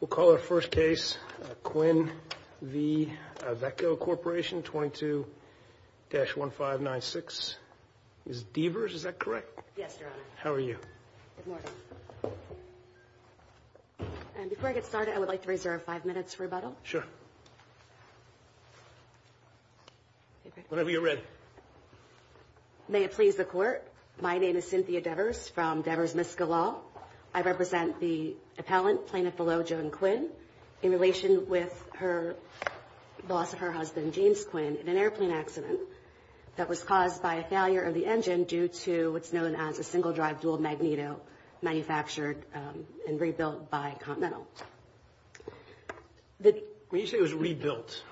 We'll call our first case Quinn v. Avco Corporation 22-1596. Ms. Deavers, is that correct? Yes, Your Honor. How are you? Good morning. Before I get started, I would like to reserve five minutes for rebuttal. Sure. Whenever you're ready. May it please the Court, my name is Cynthia Deavers from Deavers-Miskellaw. I represent the appellant, Plaintiff-Below Joan Quinn, in relation with her loss of her husband, James Quinn, in an airplane accident that was caused by a failure of the engine due to what's known as a single-drive dual-magneto manufactured and rebuilt by Continental. When you say it was rebuilt,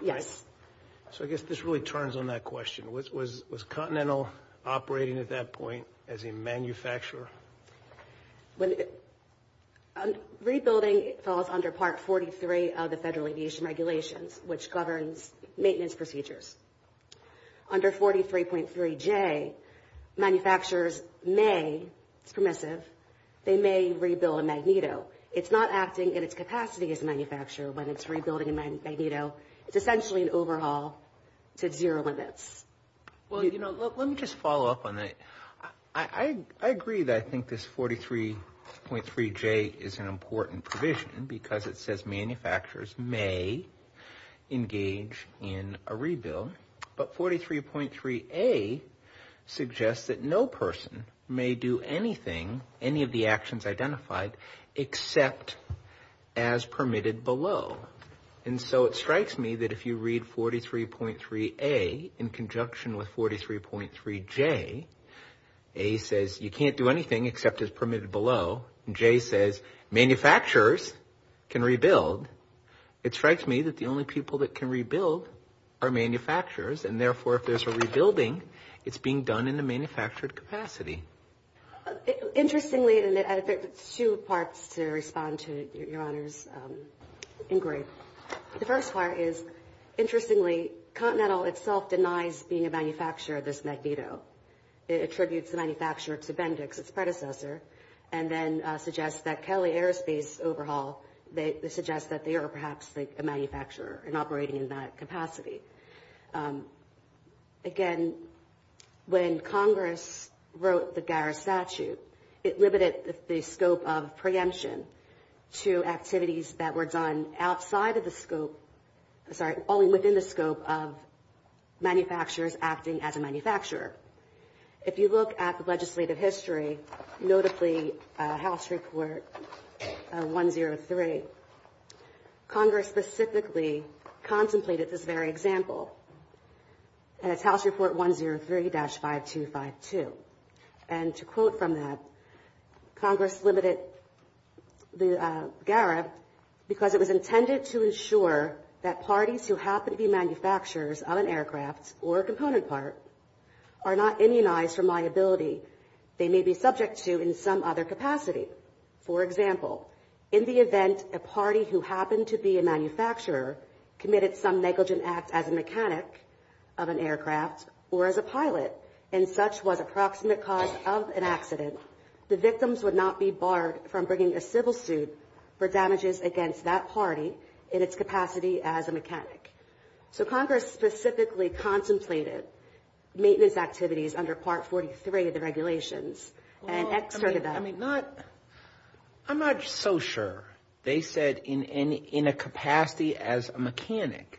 so I guess this really turns on that question. Was Continental operating at that point as a manufacturer? Rebuilding falls under Part 43 of the Federal Aviation Regulations, which governs maintenance procedures. Under 43.3J, manufacturers may, it's permissive, they may rebuild a magneto. It's not acting in its capacity as a manufacturer when it's rebuilding a magneto. It's essentially an overhaul to zero limits. Well, you know, let me just follow up on that. I agree that I think this 43.3J is an important provision because it says manufacturers may engage in a rebuild, but 43.3A suggests that no person may do anything, any of the actions identified, except as permitted below. And so it strikes me that if you read 43.3A in conjunction with 43.3J, A says you can't do anything except as permitted below, and J says manufacturers can rebuild. It strikes me that the only people that can rebuild are manufacturers, and therefore, if there's a rebuilding, it's being done in a manufactured capacity. Interestingly, and I think there's two parts to respond to Your Honor's inquiry. The first part is, interestingly, Continental itself denies being a manufacturer of this magneto. It attributes the manufacturer to Bendix, its predecessor, and then suggests that Kelly Aerospace overhaul, they suggest that they are perhaps a manufacturer and operating in that capacity. Again, when Congress wrote the Garris statute, it limited the scope of preemption to activities that were done outside of the scope, sorry, only within the scope of manufacturers acting as a manufacturer. If you look at the legislative history, notably House Report 103, Congress specifically contemplated this very example, and it's House Report 103-5252. And to quote from that, Congress limited the GARRA because it was intended to ensure that parties who happen to be manufacturers of an aircraft or a component part are not immunized from liability they may be subject to in some other capacity. For example, in the event a party who happened to be a manufacturer committed some negligent act as a mechanic of an aircraft or as a pilot, and such was approximate cause of an accident, the victims would not be barred from bringing a civil suit for damages against that party in its capacity as a mechanic. So Congress specifically contemplated maintenance activities under Part 43 of the regulations and extorted them. I'm not so sure they said in a capacity as a mechanic.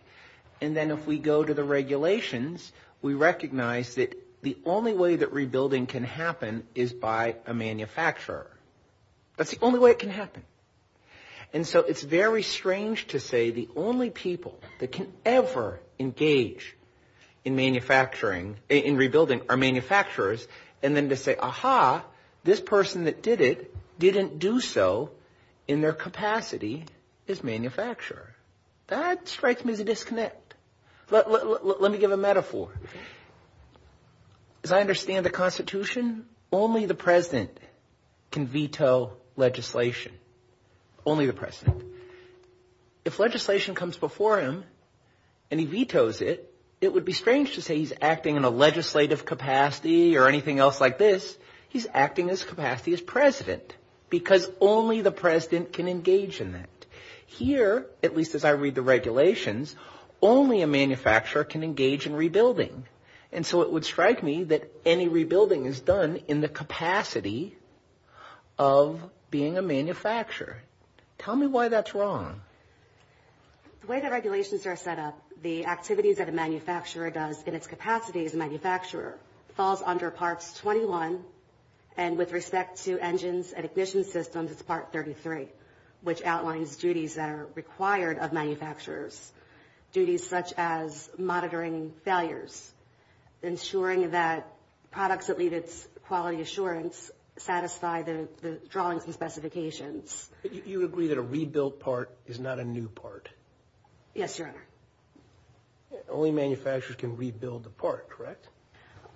And then if we go to the regulations, we recognize that the only way that rebuilding can happen is by a manufacturer. That's the only way it can happen. And so it's very strange to say the only people that can ever engage in manufacturing, in rebuilding, are manufacturers, and then to say, aha, this person that did it didn't do so in their capacity as manufacturer. That strikes me as a disconnect. As I understand the Constitution, only the president can veto legislation. Only the president. If legislation comes before him and he vetoes it, it would be strange to say he's acting in a legislative capacity or anything else like this. He's acting in his capacity as president because only the president can engage in that. Here, at least as I read the regulations, only a manufacturer can engage in rebuilding. And so it would strike me that any rebuilding is done in the capacity of being a manufacturer. Tell me why that's wrong. The way the regulations are set up, the activities that a manufacturer does in its capacity as a manufacturer falls under Parts 21. And with respect to engines and ignition systems, it's Part 33, which outlines duties that are required of manufacturers. Duties such as monitoring failures, ensuring that products that leave its quality assurance satisfy the drawings and specifications. But you agree that a rebuilt part is not a new part? Yes, Your Honor. Only manufacturers can rebuild a part, correct?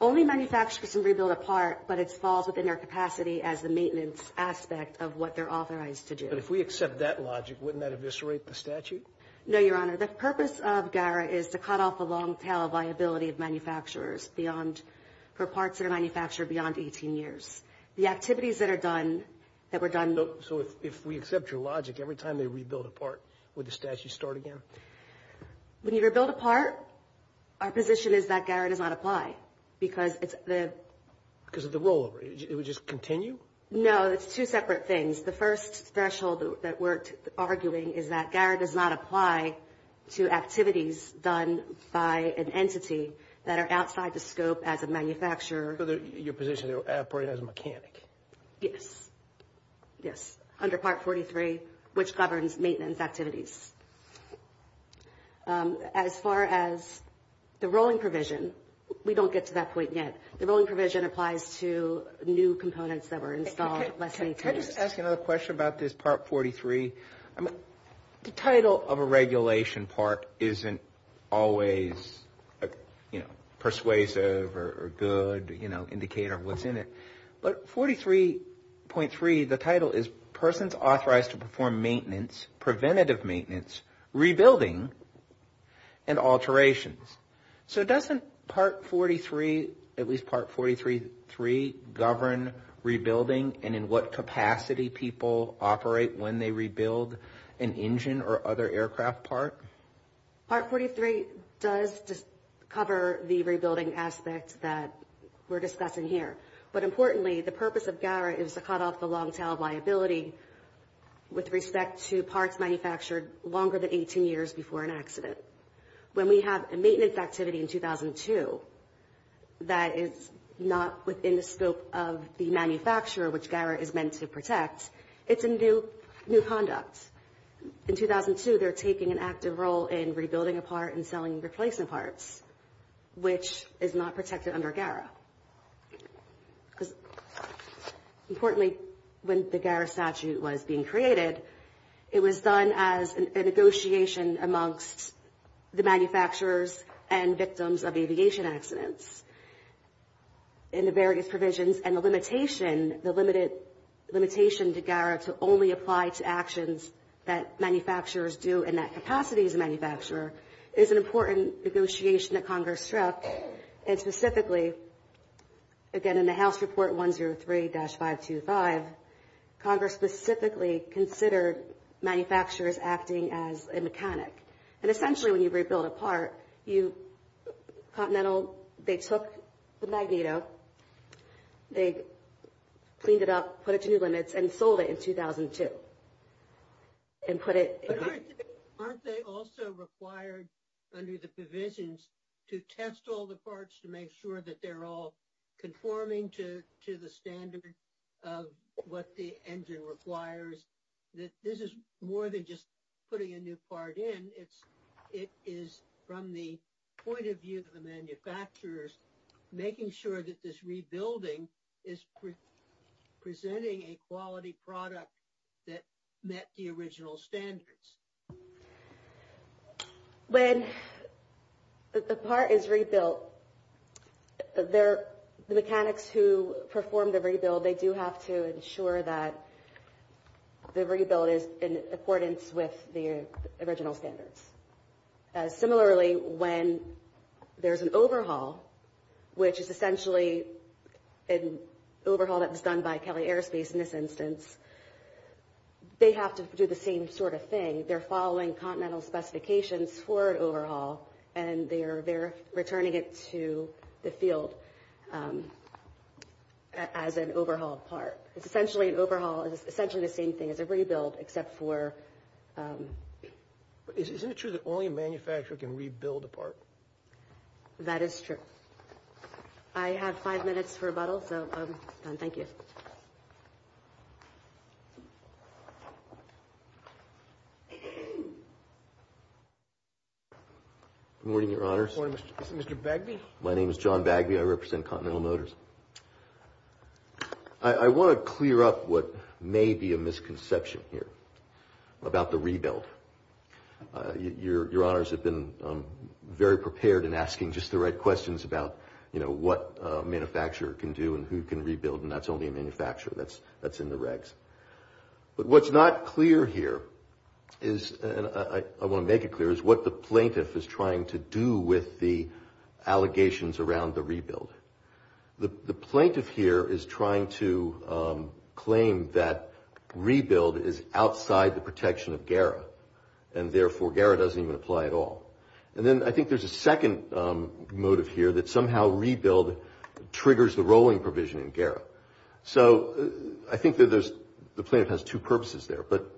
Only manufacturers can rebuild a part, but it falls within their capacity as the maintenance aspect of what they're authorized to do. But if we accept that logic, wouldn't that eviscerate the statute? No, Your Honor. The purpose of GARA is to cut off the long-tail viability of manufacturers for parts that are manufactured beyond 18 years. The activities that are done, that were done... So if we accept your logic, every time they rebuild a part, would the statute start again? When you rebuild a part, our position is that GARA does not apply because it's the... Because of the rollover. It would just continue? No, it's two separate things. The first threshold that we're arguing is that GARA does not apply to activities done by an entity that are outside the scope as a manufacturer. So your position is they're operating as a mechanic? Yes. Yes. Under Part 43, which governs maintenance activities. As far as the rolling provision, we don't get to that point yet. The rolling provision applies to new components that were installed less than 18 years. Can I just ask another question about this Part 43? The title of a regulation part isn't always persuasive or good indicator of what's in it. But 43.3, the title is persons authorized to perform maintenance, preventative maintenance, rebuilding, and alterations. So doesn't Part 43, at least Part 43.3, govern rebuilding and in what capacity people operate when they rebuild an engine or other aircraft part? Part 43 does cover the rebuilding aspects that we're discussing here. Importantly, the purpose of GARA is to cut off the long tail liability with respect to parts manufactured longer than 18 years before an accident. When we have a maintenance activity in 2002 that is not within the scope of the manufacturer, which GARA is meant to protect, it's a new conduct. In 2002, they're taking an active role in rebuilding a part and selling replacement parts, which is not protected under GARA. Importantly, when the GARA statute was being created, it was done as a negotiation amongst the manufacturers and victims of aviation accidents. And the various provisions and the limitation to GARA to only apply to actions that manufacturers do in that capacity as a manufacturer is an important negotiation that Congress struck. And specifically, again in the House Report 103-525, Congress specifically considered manufacturers acting as a mechanic. And essentially when you rebuild a part, Continental, they took the Magneto, they cleaned it up, put it to new limits, and sold it in 2002. Aren't they also required under the provisions to test all the parts to make sure that they're all conforming to the standard of what the engine requires? This is more than just putting a new part in. It is from the point of view of the manufacturers making sure that this rebuilding is presenting a quality product that met the original standards. When a part is rebuilt, the mechanics who perform the rebuild, they do have to ensure that the rebuild is in accordance with the original standards. Similarly, when there's an overhaul, which is essentially an overhaul that was done by Kelly Airspace in this instance, they have to do the same sort of thing. They're following Continental specifications for an overhaul, and they're returning it to the field as an overhauled part. It's essentially an overhaul, it's essentially the same thing as a rebuild except for... Isn't it true that only a manufacturer can rebuild a part? That is true. I have five minutes for rebuttal, so thank you. Good morning, Your Honors. Good morning, Mr. Bagby. My name is John Bagby. I represent Continental Motors. I want to clear up what may be a misconception here about the rebuild. Your Honors have been very prepared in asking just the right questions about what a manufacturer can do and who can rebuild, and that's only a manufacturer. That's in the regs. But what's not clear here is, and I want to make it clear, is what the plaintiff is trying to do with the allegations around the rebuild. The plaintiff here is trying to claim that rebuild is outside the protection of GARA, and therefore GARA doesn't even apply at all. And then I think there's a second motive here that somehow rebuild triggers the rolling provision in GARA. So I think that the plaintiff has two purposes there. But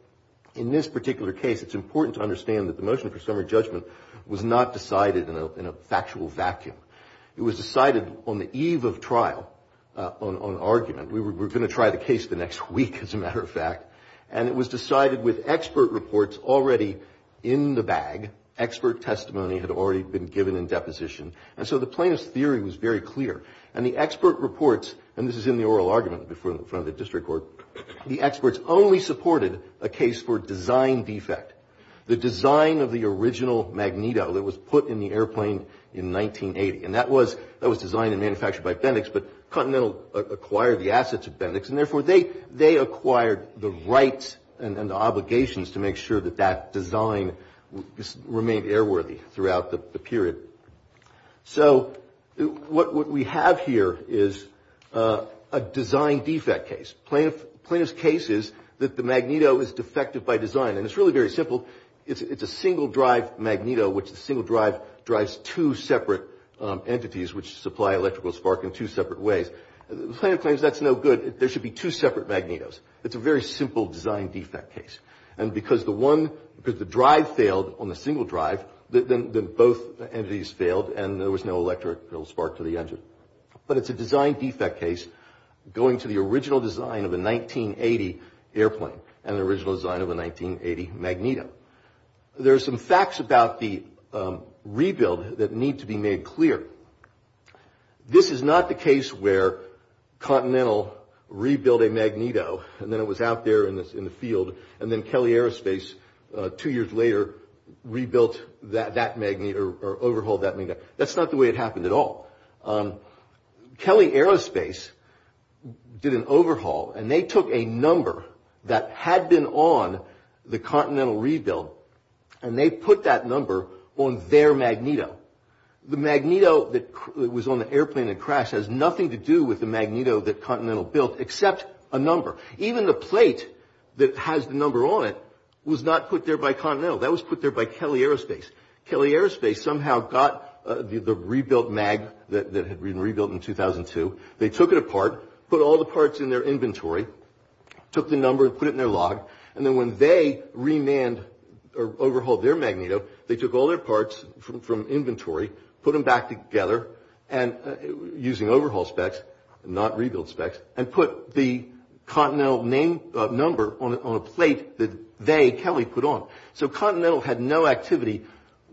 in this particular case, it's important to understand that the motion for summary judgment was not decided in a factual vacuum. It was decided on the eve of trial on argument. We were going to try the case the next week, as a matter of fact. And it was decided with expert reports already in the bag. Expert testimony had already been given in deposition. And so the plaintiff's theory was very clear. And the expert reports, and this is in the oral argument in front of the district court, the experts only supported a case for design defect. The design of the original magneto that was put in the airplane in 1980. And that was designed and manufactured by Bendix, but Continental acquired the assets of Bendix, and therefore they acquired the rights and obligations to make sure that that design remained airworthy throughout the period. So what we have here is a design defect case. Plaintiff's case is that the magneto is defective by design. And it's really very simple. It's a single drive magneto, which the single drive drives two separate entities, which supply electrical spark in two separate ways. The plaintiff claims that's no good. There should be two separate magnetos. It's a very simple design defect case. And because the drive failed on the single drive, then both entities failed and there was no electrical spark to the engine. But it's a design defect case going to the original design of a 1980 airplane and the original design of a 1980 magneto. There are some facts about the rebuild that need to be made clear. This is not the case where Continental rebuilt a magneto, and then it was out there in the field, and then Kelly Aerospace two years later rebuilt that magneto or overhauled that magneto. That's not the way it happened at all. Kelly Aerospace did an overhaul, and they took a number that had been on the Continental rebuild, and they put that number on their magneto. The magneto that was on the airplane that crashed has nothing to do with the magneto that Continental built except a number. Even the plate that has the number on it was not put there by Continental. That was put there by Kelly Aerospace. Kelly Aerospace somehow got the rebuilt mag that had been rebuilt in 2002. They took it apart, put all the parts in their inventory, took the number and put it in their log. Then when they remanned or overhauled their magneto, they took all their parts from inventory, put them back together using overhaul specs, not rebuild specs, and put the Continental number on a plate that they, Kelly, put on. So Continental had no activity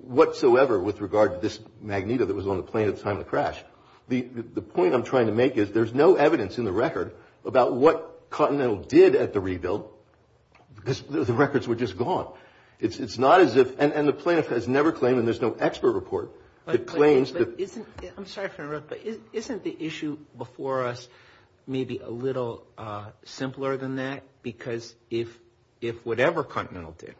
whatsoever with regard to this magneto that was on the plane at the time of the crash. The point I'm trying to make is there's no evidence in the record about what Continental did at the rebuild, because the records were just gone. It's not as if, and the plaintiff has never claimed, and there's no expert report that claims that. I'm sorry for interrupting, but isn't the issue before us maybe a little simpler than that? Because if whatever Continental did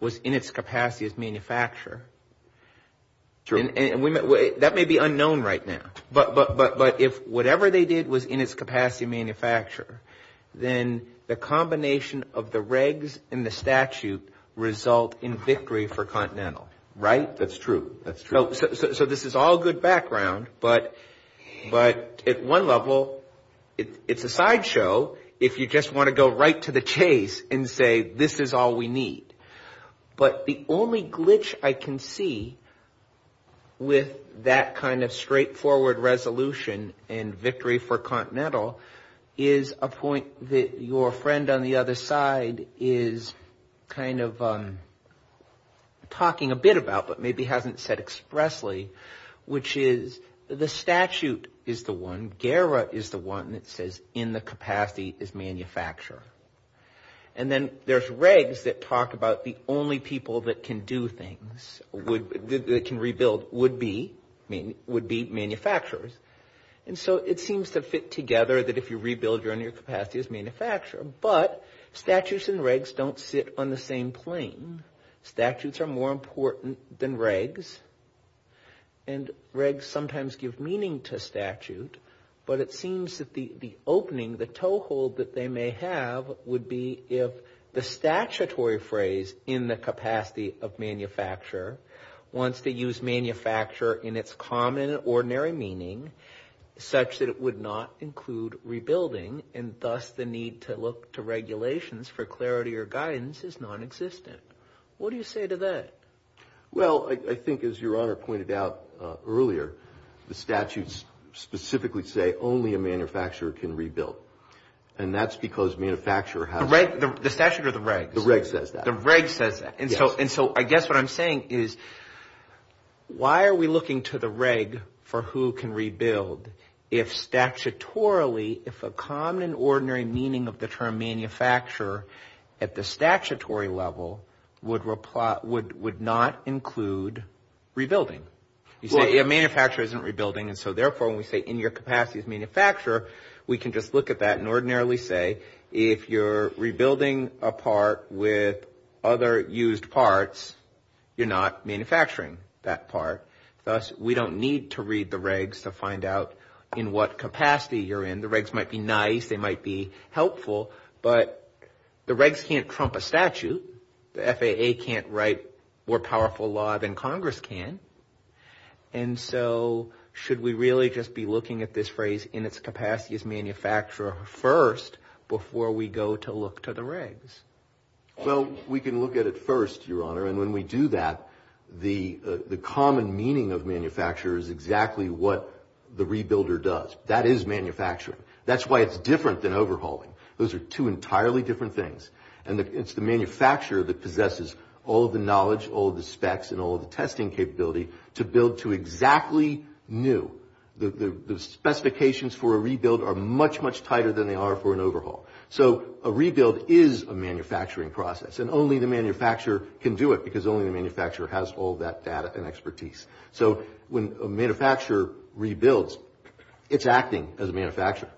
was in its capacity as manufacturer, and that may be unknown right now, but if whatever they did was in its capacity as manufacturer, then the combination of the regs and the statute result in victory for Continental, right? That's true. That's true. So this is all good background, but at one level, it's a sideshow if you just want to go right to the chase and say, this is all we need. But the only glitch I can see with that kind of straightforward resolution and victory for Continental is a point that your friend on the other side is kind of talking a bit about, but maybe hasn't said expressly, which is the statute is the one, GERA is the one that says in the capacity as manufacturer. And then there's regs that talk about the only people that can do things, that can rebuild, would be manufacturers. And so it seems to fit together that if you rebuild, you're in your capacity as manufacturer, but statutes and regs don't sit on the same plane. Statutes are more important than regs, and regs sometimes give meaning to statute, but it seems that the opening, the toehold that they may have would be if the statutory phrase in the capacity of manufacturer wants to use manufacturer in its common, ordinary meaning, such that it would not include rebuilding, and thus the need to look to regulations for clarity or guidance is nonexistent. What do you say to that? Well, I think as your honor pointed out earlier, the statutes specifically say only a manufacturer can rebuild, and that's because manufacturer has... The statute or the regs? The regs says that. The regs says that. And so I guess what I'm saying is why are we looking to the reg for who can rebuild if statutorily, if a common, ordinary meaning of the term manufacturer at the statutory level would not include rebuilding? You say a manufacturer isn't rebuilding, and so therefore when we say in your capacity as manufacturer, we can just look at that and ordinarily say if you're rebuilding a part with other used parts, you're not manufacturing that part. Thus, we don't need to read the regs to find out in what capacity you're in. The regs might be nice. They might be helpful, but the regs can't trump a statute. The FAA can't write more powerful law than Congress can, and so should we really just be looking at this phrase in its capacity as manufacturer first before we go to look to the regs? Well, we can look at it first, your honor, and when we do that, the common meaning of manufacturer is exactly what the rebuilder does. That is manufacturing. That's why it's different than overhauling. Those are two entirely different things, and it's the manufacturer that possesses all of the knowledge, all of the specs, and all of the testing capability to build to exactly new. The specifications for a rebuild are much, much tighter than they are for an overhaul. So a rebuild is a manufacturing process, and only the manufacturer can do it because only the manufacturer has all that data and expertise. So when a manufacturer rebuilds, it's acting as a manufacturer.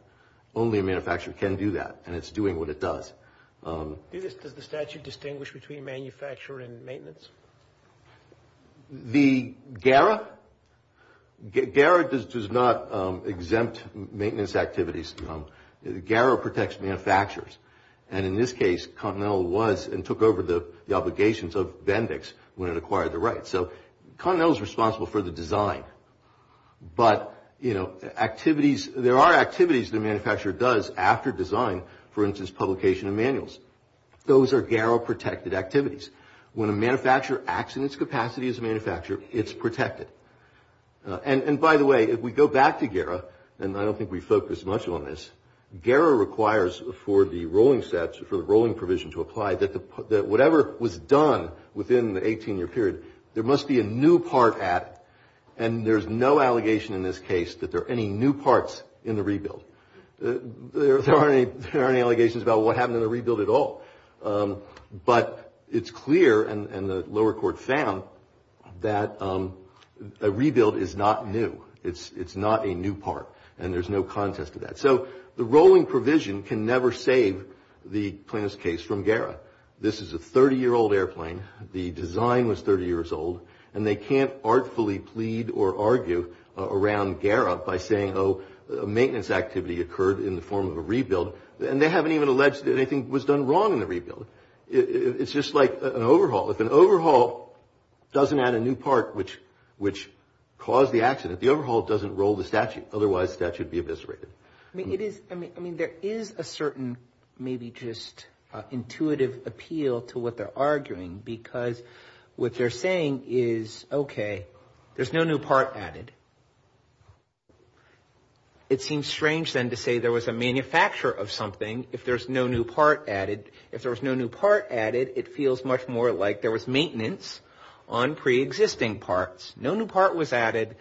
Only a manufacturer can do that, and it's doing what it does. Does the statute distinguish between manufacturer and maintenance? The GARA? GARA does not exempt maintenance activities. GARA protects manufacturers, and in this case, Continental was and took over the obligations of Bendix when it acquired the rights. So Continental is responsible for the design, but there are activities the manufacturer does after design. For instance, publication of manuals. Those are GARA-protected activities. When a manufacturer acts in its capacity as a manufacturer, it's protected. And by the way, if we go back to GARA, and I don't think we focused much on this, GARA requires for the rolling sets, for the rolling provision to apply, that whatever was done within the 18-year period, there must be a new part added, and there's no allegation in this case that there are any new parts in the rebuild. There aren't any allegations about what happened in the rebuild at all. But it's clear, and the lower court found, that a rebuild is not new. It's not a new part, and there's no contest to that. So the rolling provision can never save the plaintiff's case from GARA. This is a 30-year-old airplane. The design was 30 years old, and they can't artfully plead or argue around GARA by saying, oh, a maintenance activity occurred in the form of a rebuild, and they haven't even alleged that anything was done wrong in the rebuild. It's just like an overhaul. If an overhaul doesn't add a new part, which caused the accident, the overhaul doesn't roll the statute. Otherwise, the statute would be eviscerated. I mean, there is a certain maybe just intuitive appeal to what they're arguing, because what they're saying is, okay, there's no new part added. It seems strange, then, to say there was a manufacturer of something if there's no new part added. If there was no new part added, it feels much more like there was maintenance on preexisting parts. No new part was added,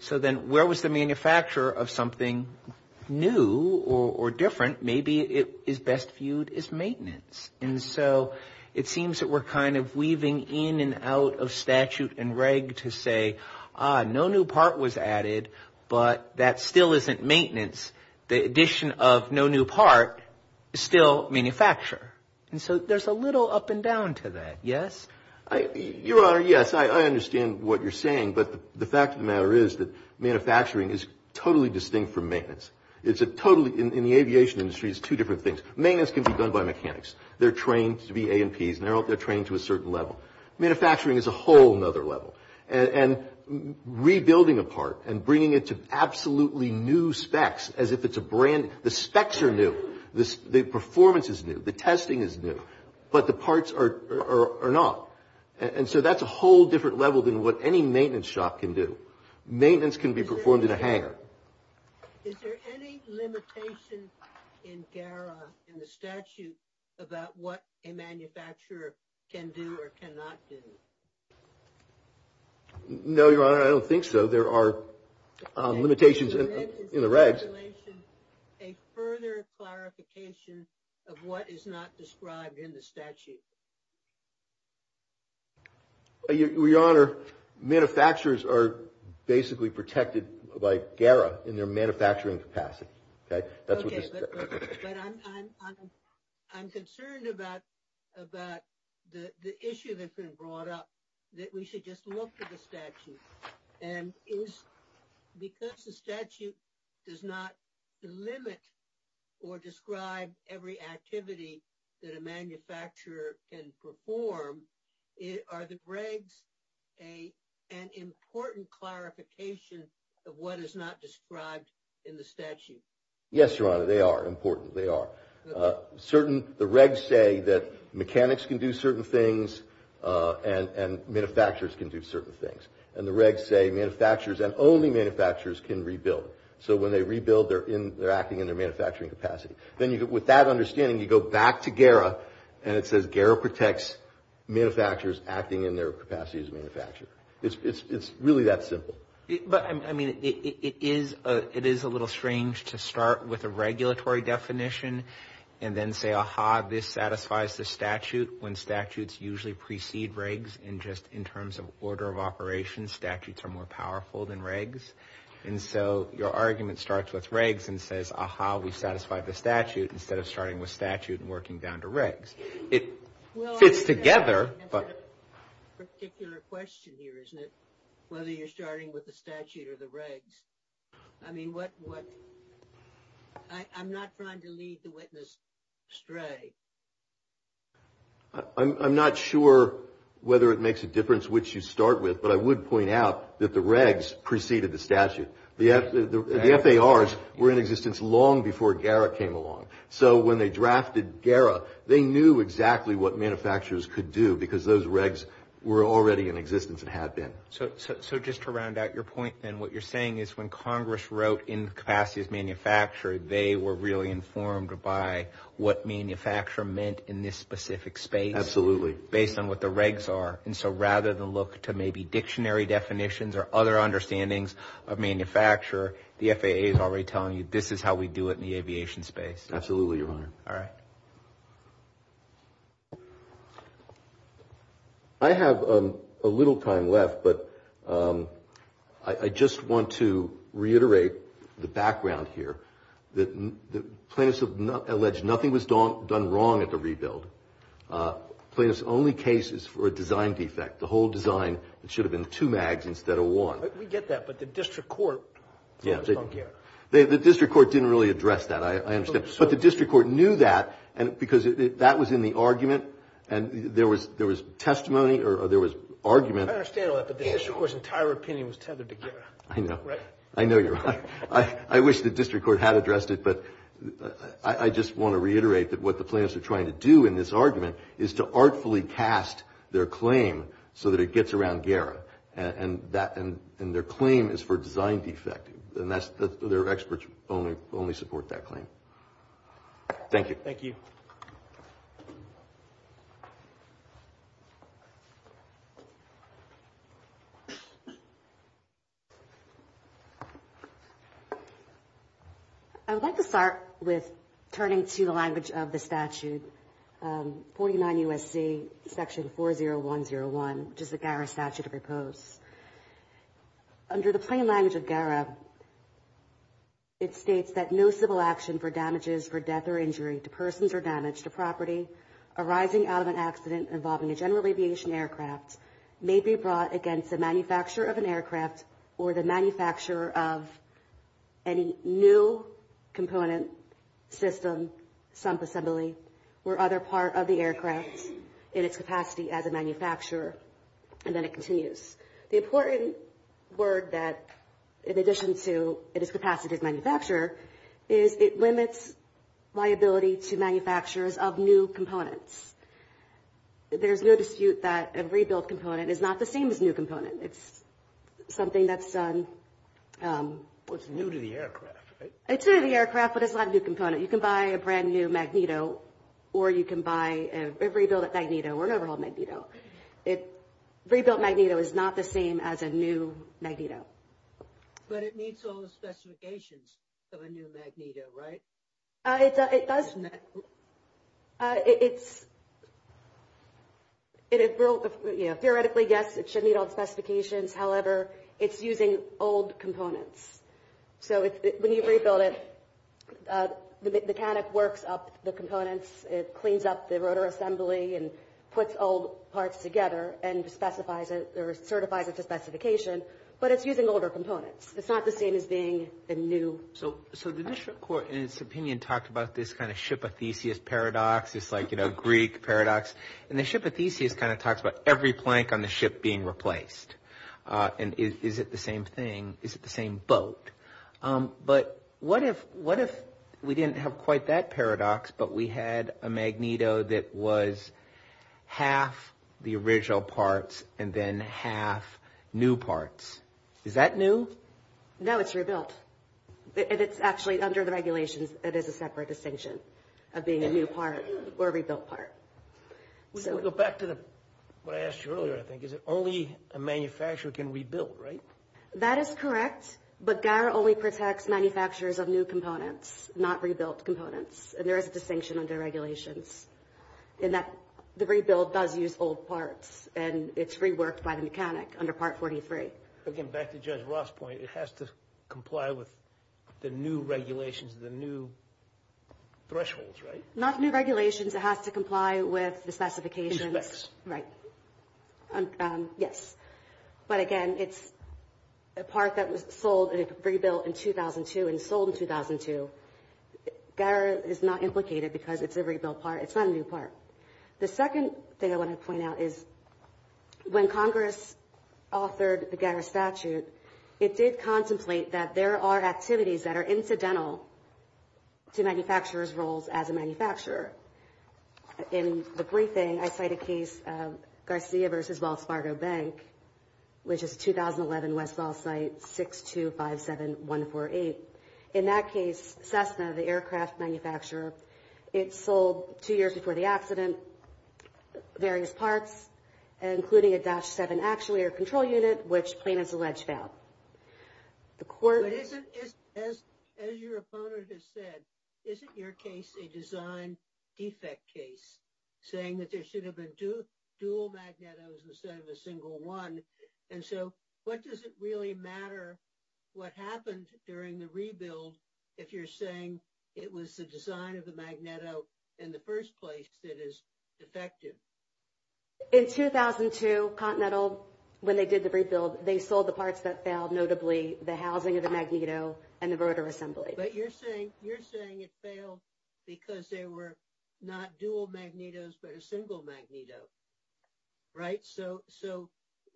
so then where was the manufacturer of something new or different? Maybe it is best viewed as maintenance. And so it seems that we're kind of weaving in and out of statute and reg to say, ah, no new part was added, but that still isn't maintenance. The addition of no new part is still manufacture. And so there's a little up and down to that, yes? Your Honor, yes, I understand what you're saying, but the fact of the matter is that manufacturing is totally distinct from maintenance. In the aviation industry, it's two different things. Maintenance can be done by mechanics. They're trained to be A&Ps, and they're trained to a certain level. Manufacturing is a whole other level. And rebuilding a part and bringing it to absolutely new specs, as if it's a brand new, the specs are new, the performance is new, the testing is new, but the parts are not. And so that's a whole different level than what any maintenance shop can do. Maintenance can be performed in a hangar. Is there any limitation in GARA, in the statute, about what a manufacturer can do or cannot do? No, Your Honor, I don't think so. There are limitations in the regs. Is there a further clarification of what is not described in the statute? Your Honor, manufacturers are basically protected by GARA in their manufacturing capacity. Okay, but I'm concerned about the issue that's been brought up that we should just look at the statute. And because the statute does not limit or describe every activity that a manufacturer can perform, are the regs an important clarification of what is not described in the statute? Yes, Your Honor, they are important, they are. The regs say that mechanics can do certain things and manufacturers can do certain things. And the regs say manufacturers and only manufacturers can rebuild. So when they rebuild, they're acting in their manufacturing capacity. Then with that understanding, you go back to GARA and it says GARA protects manufacturers acting in their capacity as a manufacturer. It's really that simple. But, I mean, it is a little strange to start with a regulatory definition and then say, aha, this satisfies the statute when statutes usually precede regs and just in terms of order of operations, statutes are more powerful than regs. And so your argument starts with regs and says, aha, we've satisfied the statute instead of starting with statute and working down to regs. It fits together, but... Well, I guess I have a particular question here, isn't it? Whether you're starting with the statute or the regs. I mean, what... I'm not trying to lead the witness astray. I'm not sure whether it makes a difference which you start with, but I would point out that the regs preceded the statute. The FARs were in existence long before GARA came along. So when they drafted GARA, they knew exactly what manufacturers could do because those regs were already in existence and had been. So just to round out your point then, what you're saying is when Congress wrote in capacity as manufacturer, they were really informed by what manufacturer meant in this specific space... Absolutely. ...based on what the regs are. And so rather than look to maybe dictionary definitions or other understandings of manufacturer, the FAA is already telling you this is how we do it in the aviation space. Absolutely, Your Honor. All right. I have a little time left, but I just want to reiterate the background here. Plaintiffs have alleged nothing was done wrong at the rebuild. Plaintiffs' only case is for a design defect. The whole design should have been two mags instead of one. We get that, but the district court... Yeah, the district court didn't really address that. I understand. But the district court knew that because that was in the argument and there was testimony or there was argument. I understand all that, but the district court's entire opinion was tethered to GARA. I know. Right? I know, Your Honor. I wish the district court had addressed it, but I just want to reiterate that what the plaintiffs are trying to do in this argument is to artfully cast their claim so that it gets around GARA. And their claim is for design defect. And their experts only support that claim. Thank you. Thank you. I would like to start with turning to the language of the statute, 49 U.S.C. section 40101, which is the GARA statute of repose. Under the plain language of GARA, it states that no civil action for damages for death or injury to persons or damage to property arising out of an accident involving a general aviation aircraft may be brought against the manufacturer of an aircraft or the manufacturer of any new component, system, sump assembly, or other part of the aircraft in its capacity as a manufacturer. And then it continues. The important word that, in addition to its capacity as manufacturer, is it limits liability to manufacturers of new components. There's no dispute that a rebuilt component is not the same as a new component. I think that's... Well, it's new to the aircraft, right? It's new to the aircraft, but it's not a new component. You can buy a brand-new Magneto or you can buy a rebuilt Magneto or an overhauled Magneto. A rebuilt Magneto is not the same as a new Magneto. But it meets all the specifications of a new Magneto, right? It does. It's... Theoretically, yes, it should meet all the specifications. However, it's using old components. So when you rebuild it, the mechanic works up the components. It cleans up the rotor assembly and puts old parts together and specifies it or certifies it to specification. But it's using older components. It's not the same as being a new... So the district court, in its opinion, talked about this kind of ship aethesia paradox. It's like, you know, Greek paradox. And the ship aethesia is being replaced. And is it the same thing? Is it the same boat? But what if... What if we didn't have quite that paradox but we had a Magneto that was half the original parts and then half new parts? Is that new? No, it's rebuilt. And it's actually, under the regulations, it is a separate distinction of being a new part or a rebuilt part. So... Back to what I asked you earlier, I think. Is it only a manufacturer can rebuild, right? That is correct. But GARA only protects manufacturers of new components, not rebuilt components. And there is a distinction under regulations in that the rebuild does use old parts and it's reworked by the mechanic under Part 43. Again, back to Judge Ross' point, it has to comply with the new regulations, the new thresholds, right? Not new regulations. It has to comply with the specifications. In specs. Right. Yes. But again, it's a part that was sold and rebuilt in 2002 and sold in 2002. GARA is not implicated because it's a rebuilt part. It's not a new part. The second thing I want to point out is when Congress authored the GARA statute, it did contemplate that there are activities that are incidental to manufacturers' roles as a manufacturer. In the briefing, I cite a case of Garcia v. Wells Fargo Bank, which is a 2011 Westall site 6257148. In that case, Cessna, the aircraft manufacturer, it sold, two years before the accident, various parts, including a Dash 7 actuator control unit, which plaintiffs allege fell. The court... But as your opponent has said, isn't your case a design defect in that case, saying that there should have been dual magnetos instead of a single one? And so what does it really matter what happened during the rebuild if you're saying it was the design of the magneto in the first place that is defective? In 2002, Continental, when they did the rebuild, they sold the parts that failed, notably the housing of the magneto and the rotor assembly. But you're saying it failed because there were no dual magnetos but a single magneto. Right? So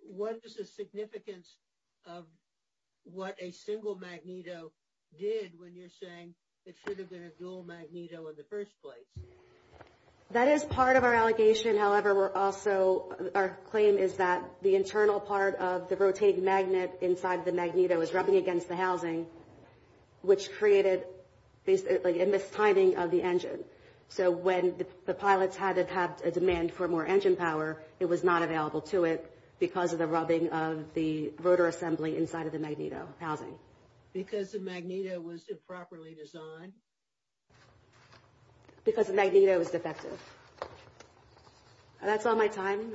what is the significance of what a single magneto did when you're saying it should have been a dual magneto in the first place? That is part of our allegation. However, we're also... Our claim is that the internal part of the rotating magnet inside the magneto is rubbing against the housing, which created basically a mistiming of the engine. So when the pilots had to have a demand for more engine power, it was not available to it because of the rubbing of the rotor assembly inside of the magneto housing. Because the magneto was improperly designed? Because the magneto was defective. That's all my time.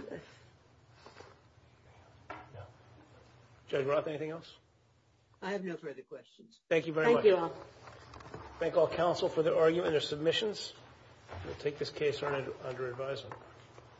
Judge Roth, anything else? I have no further questions. Thank you very much. Thank you all. Thank all counsel for their argument and their submissions. We'll take this case under advisement.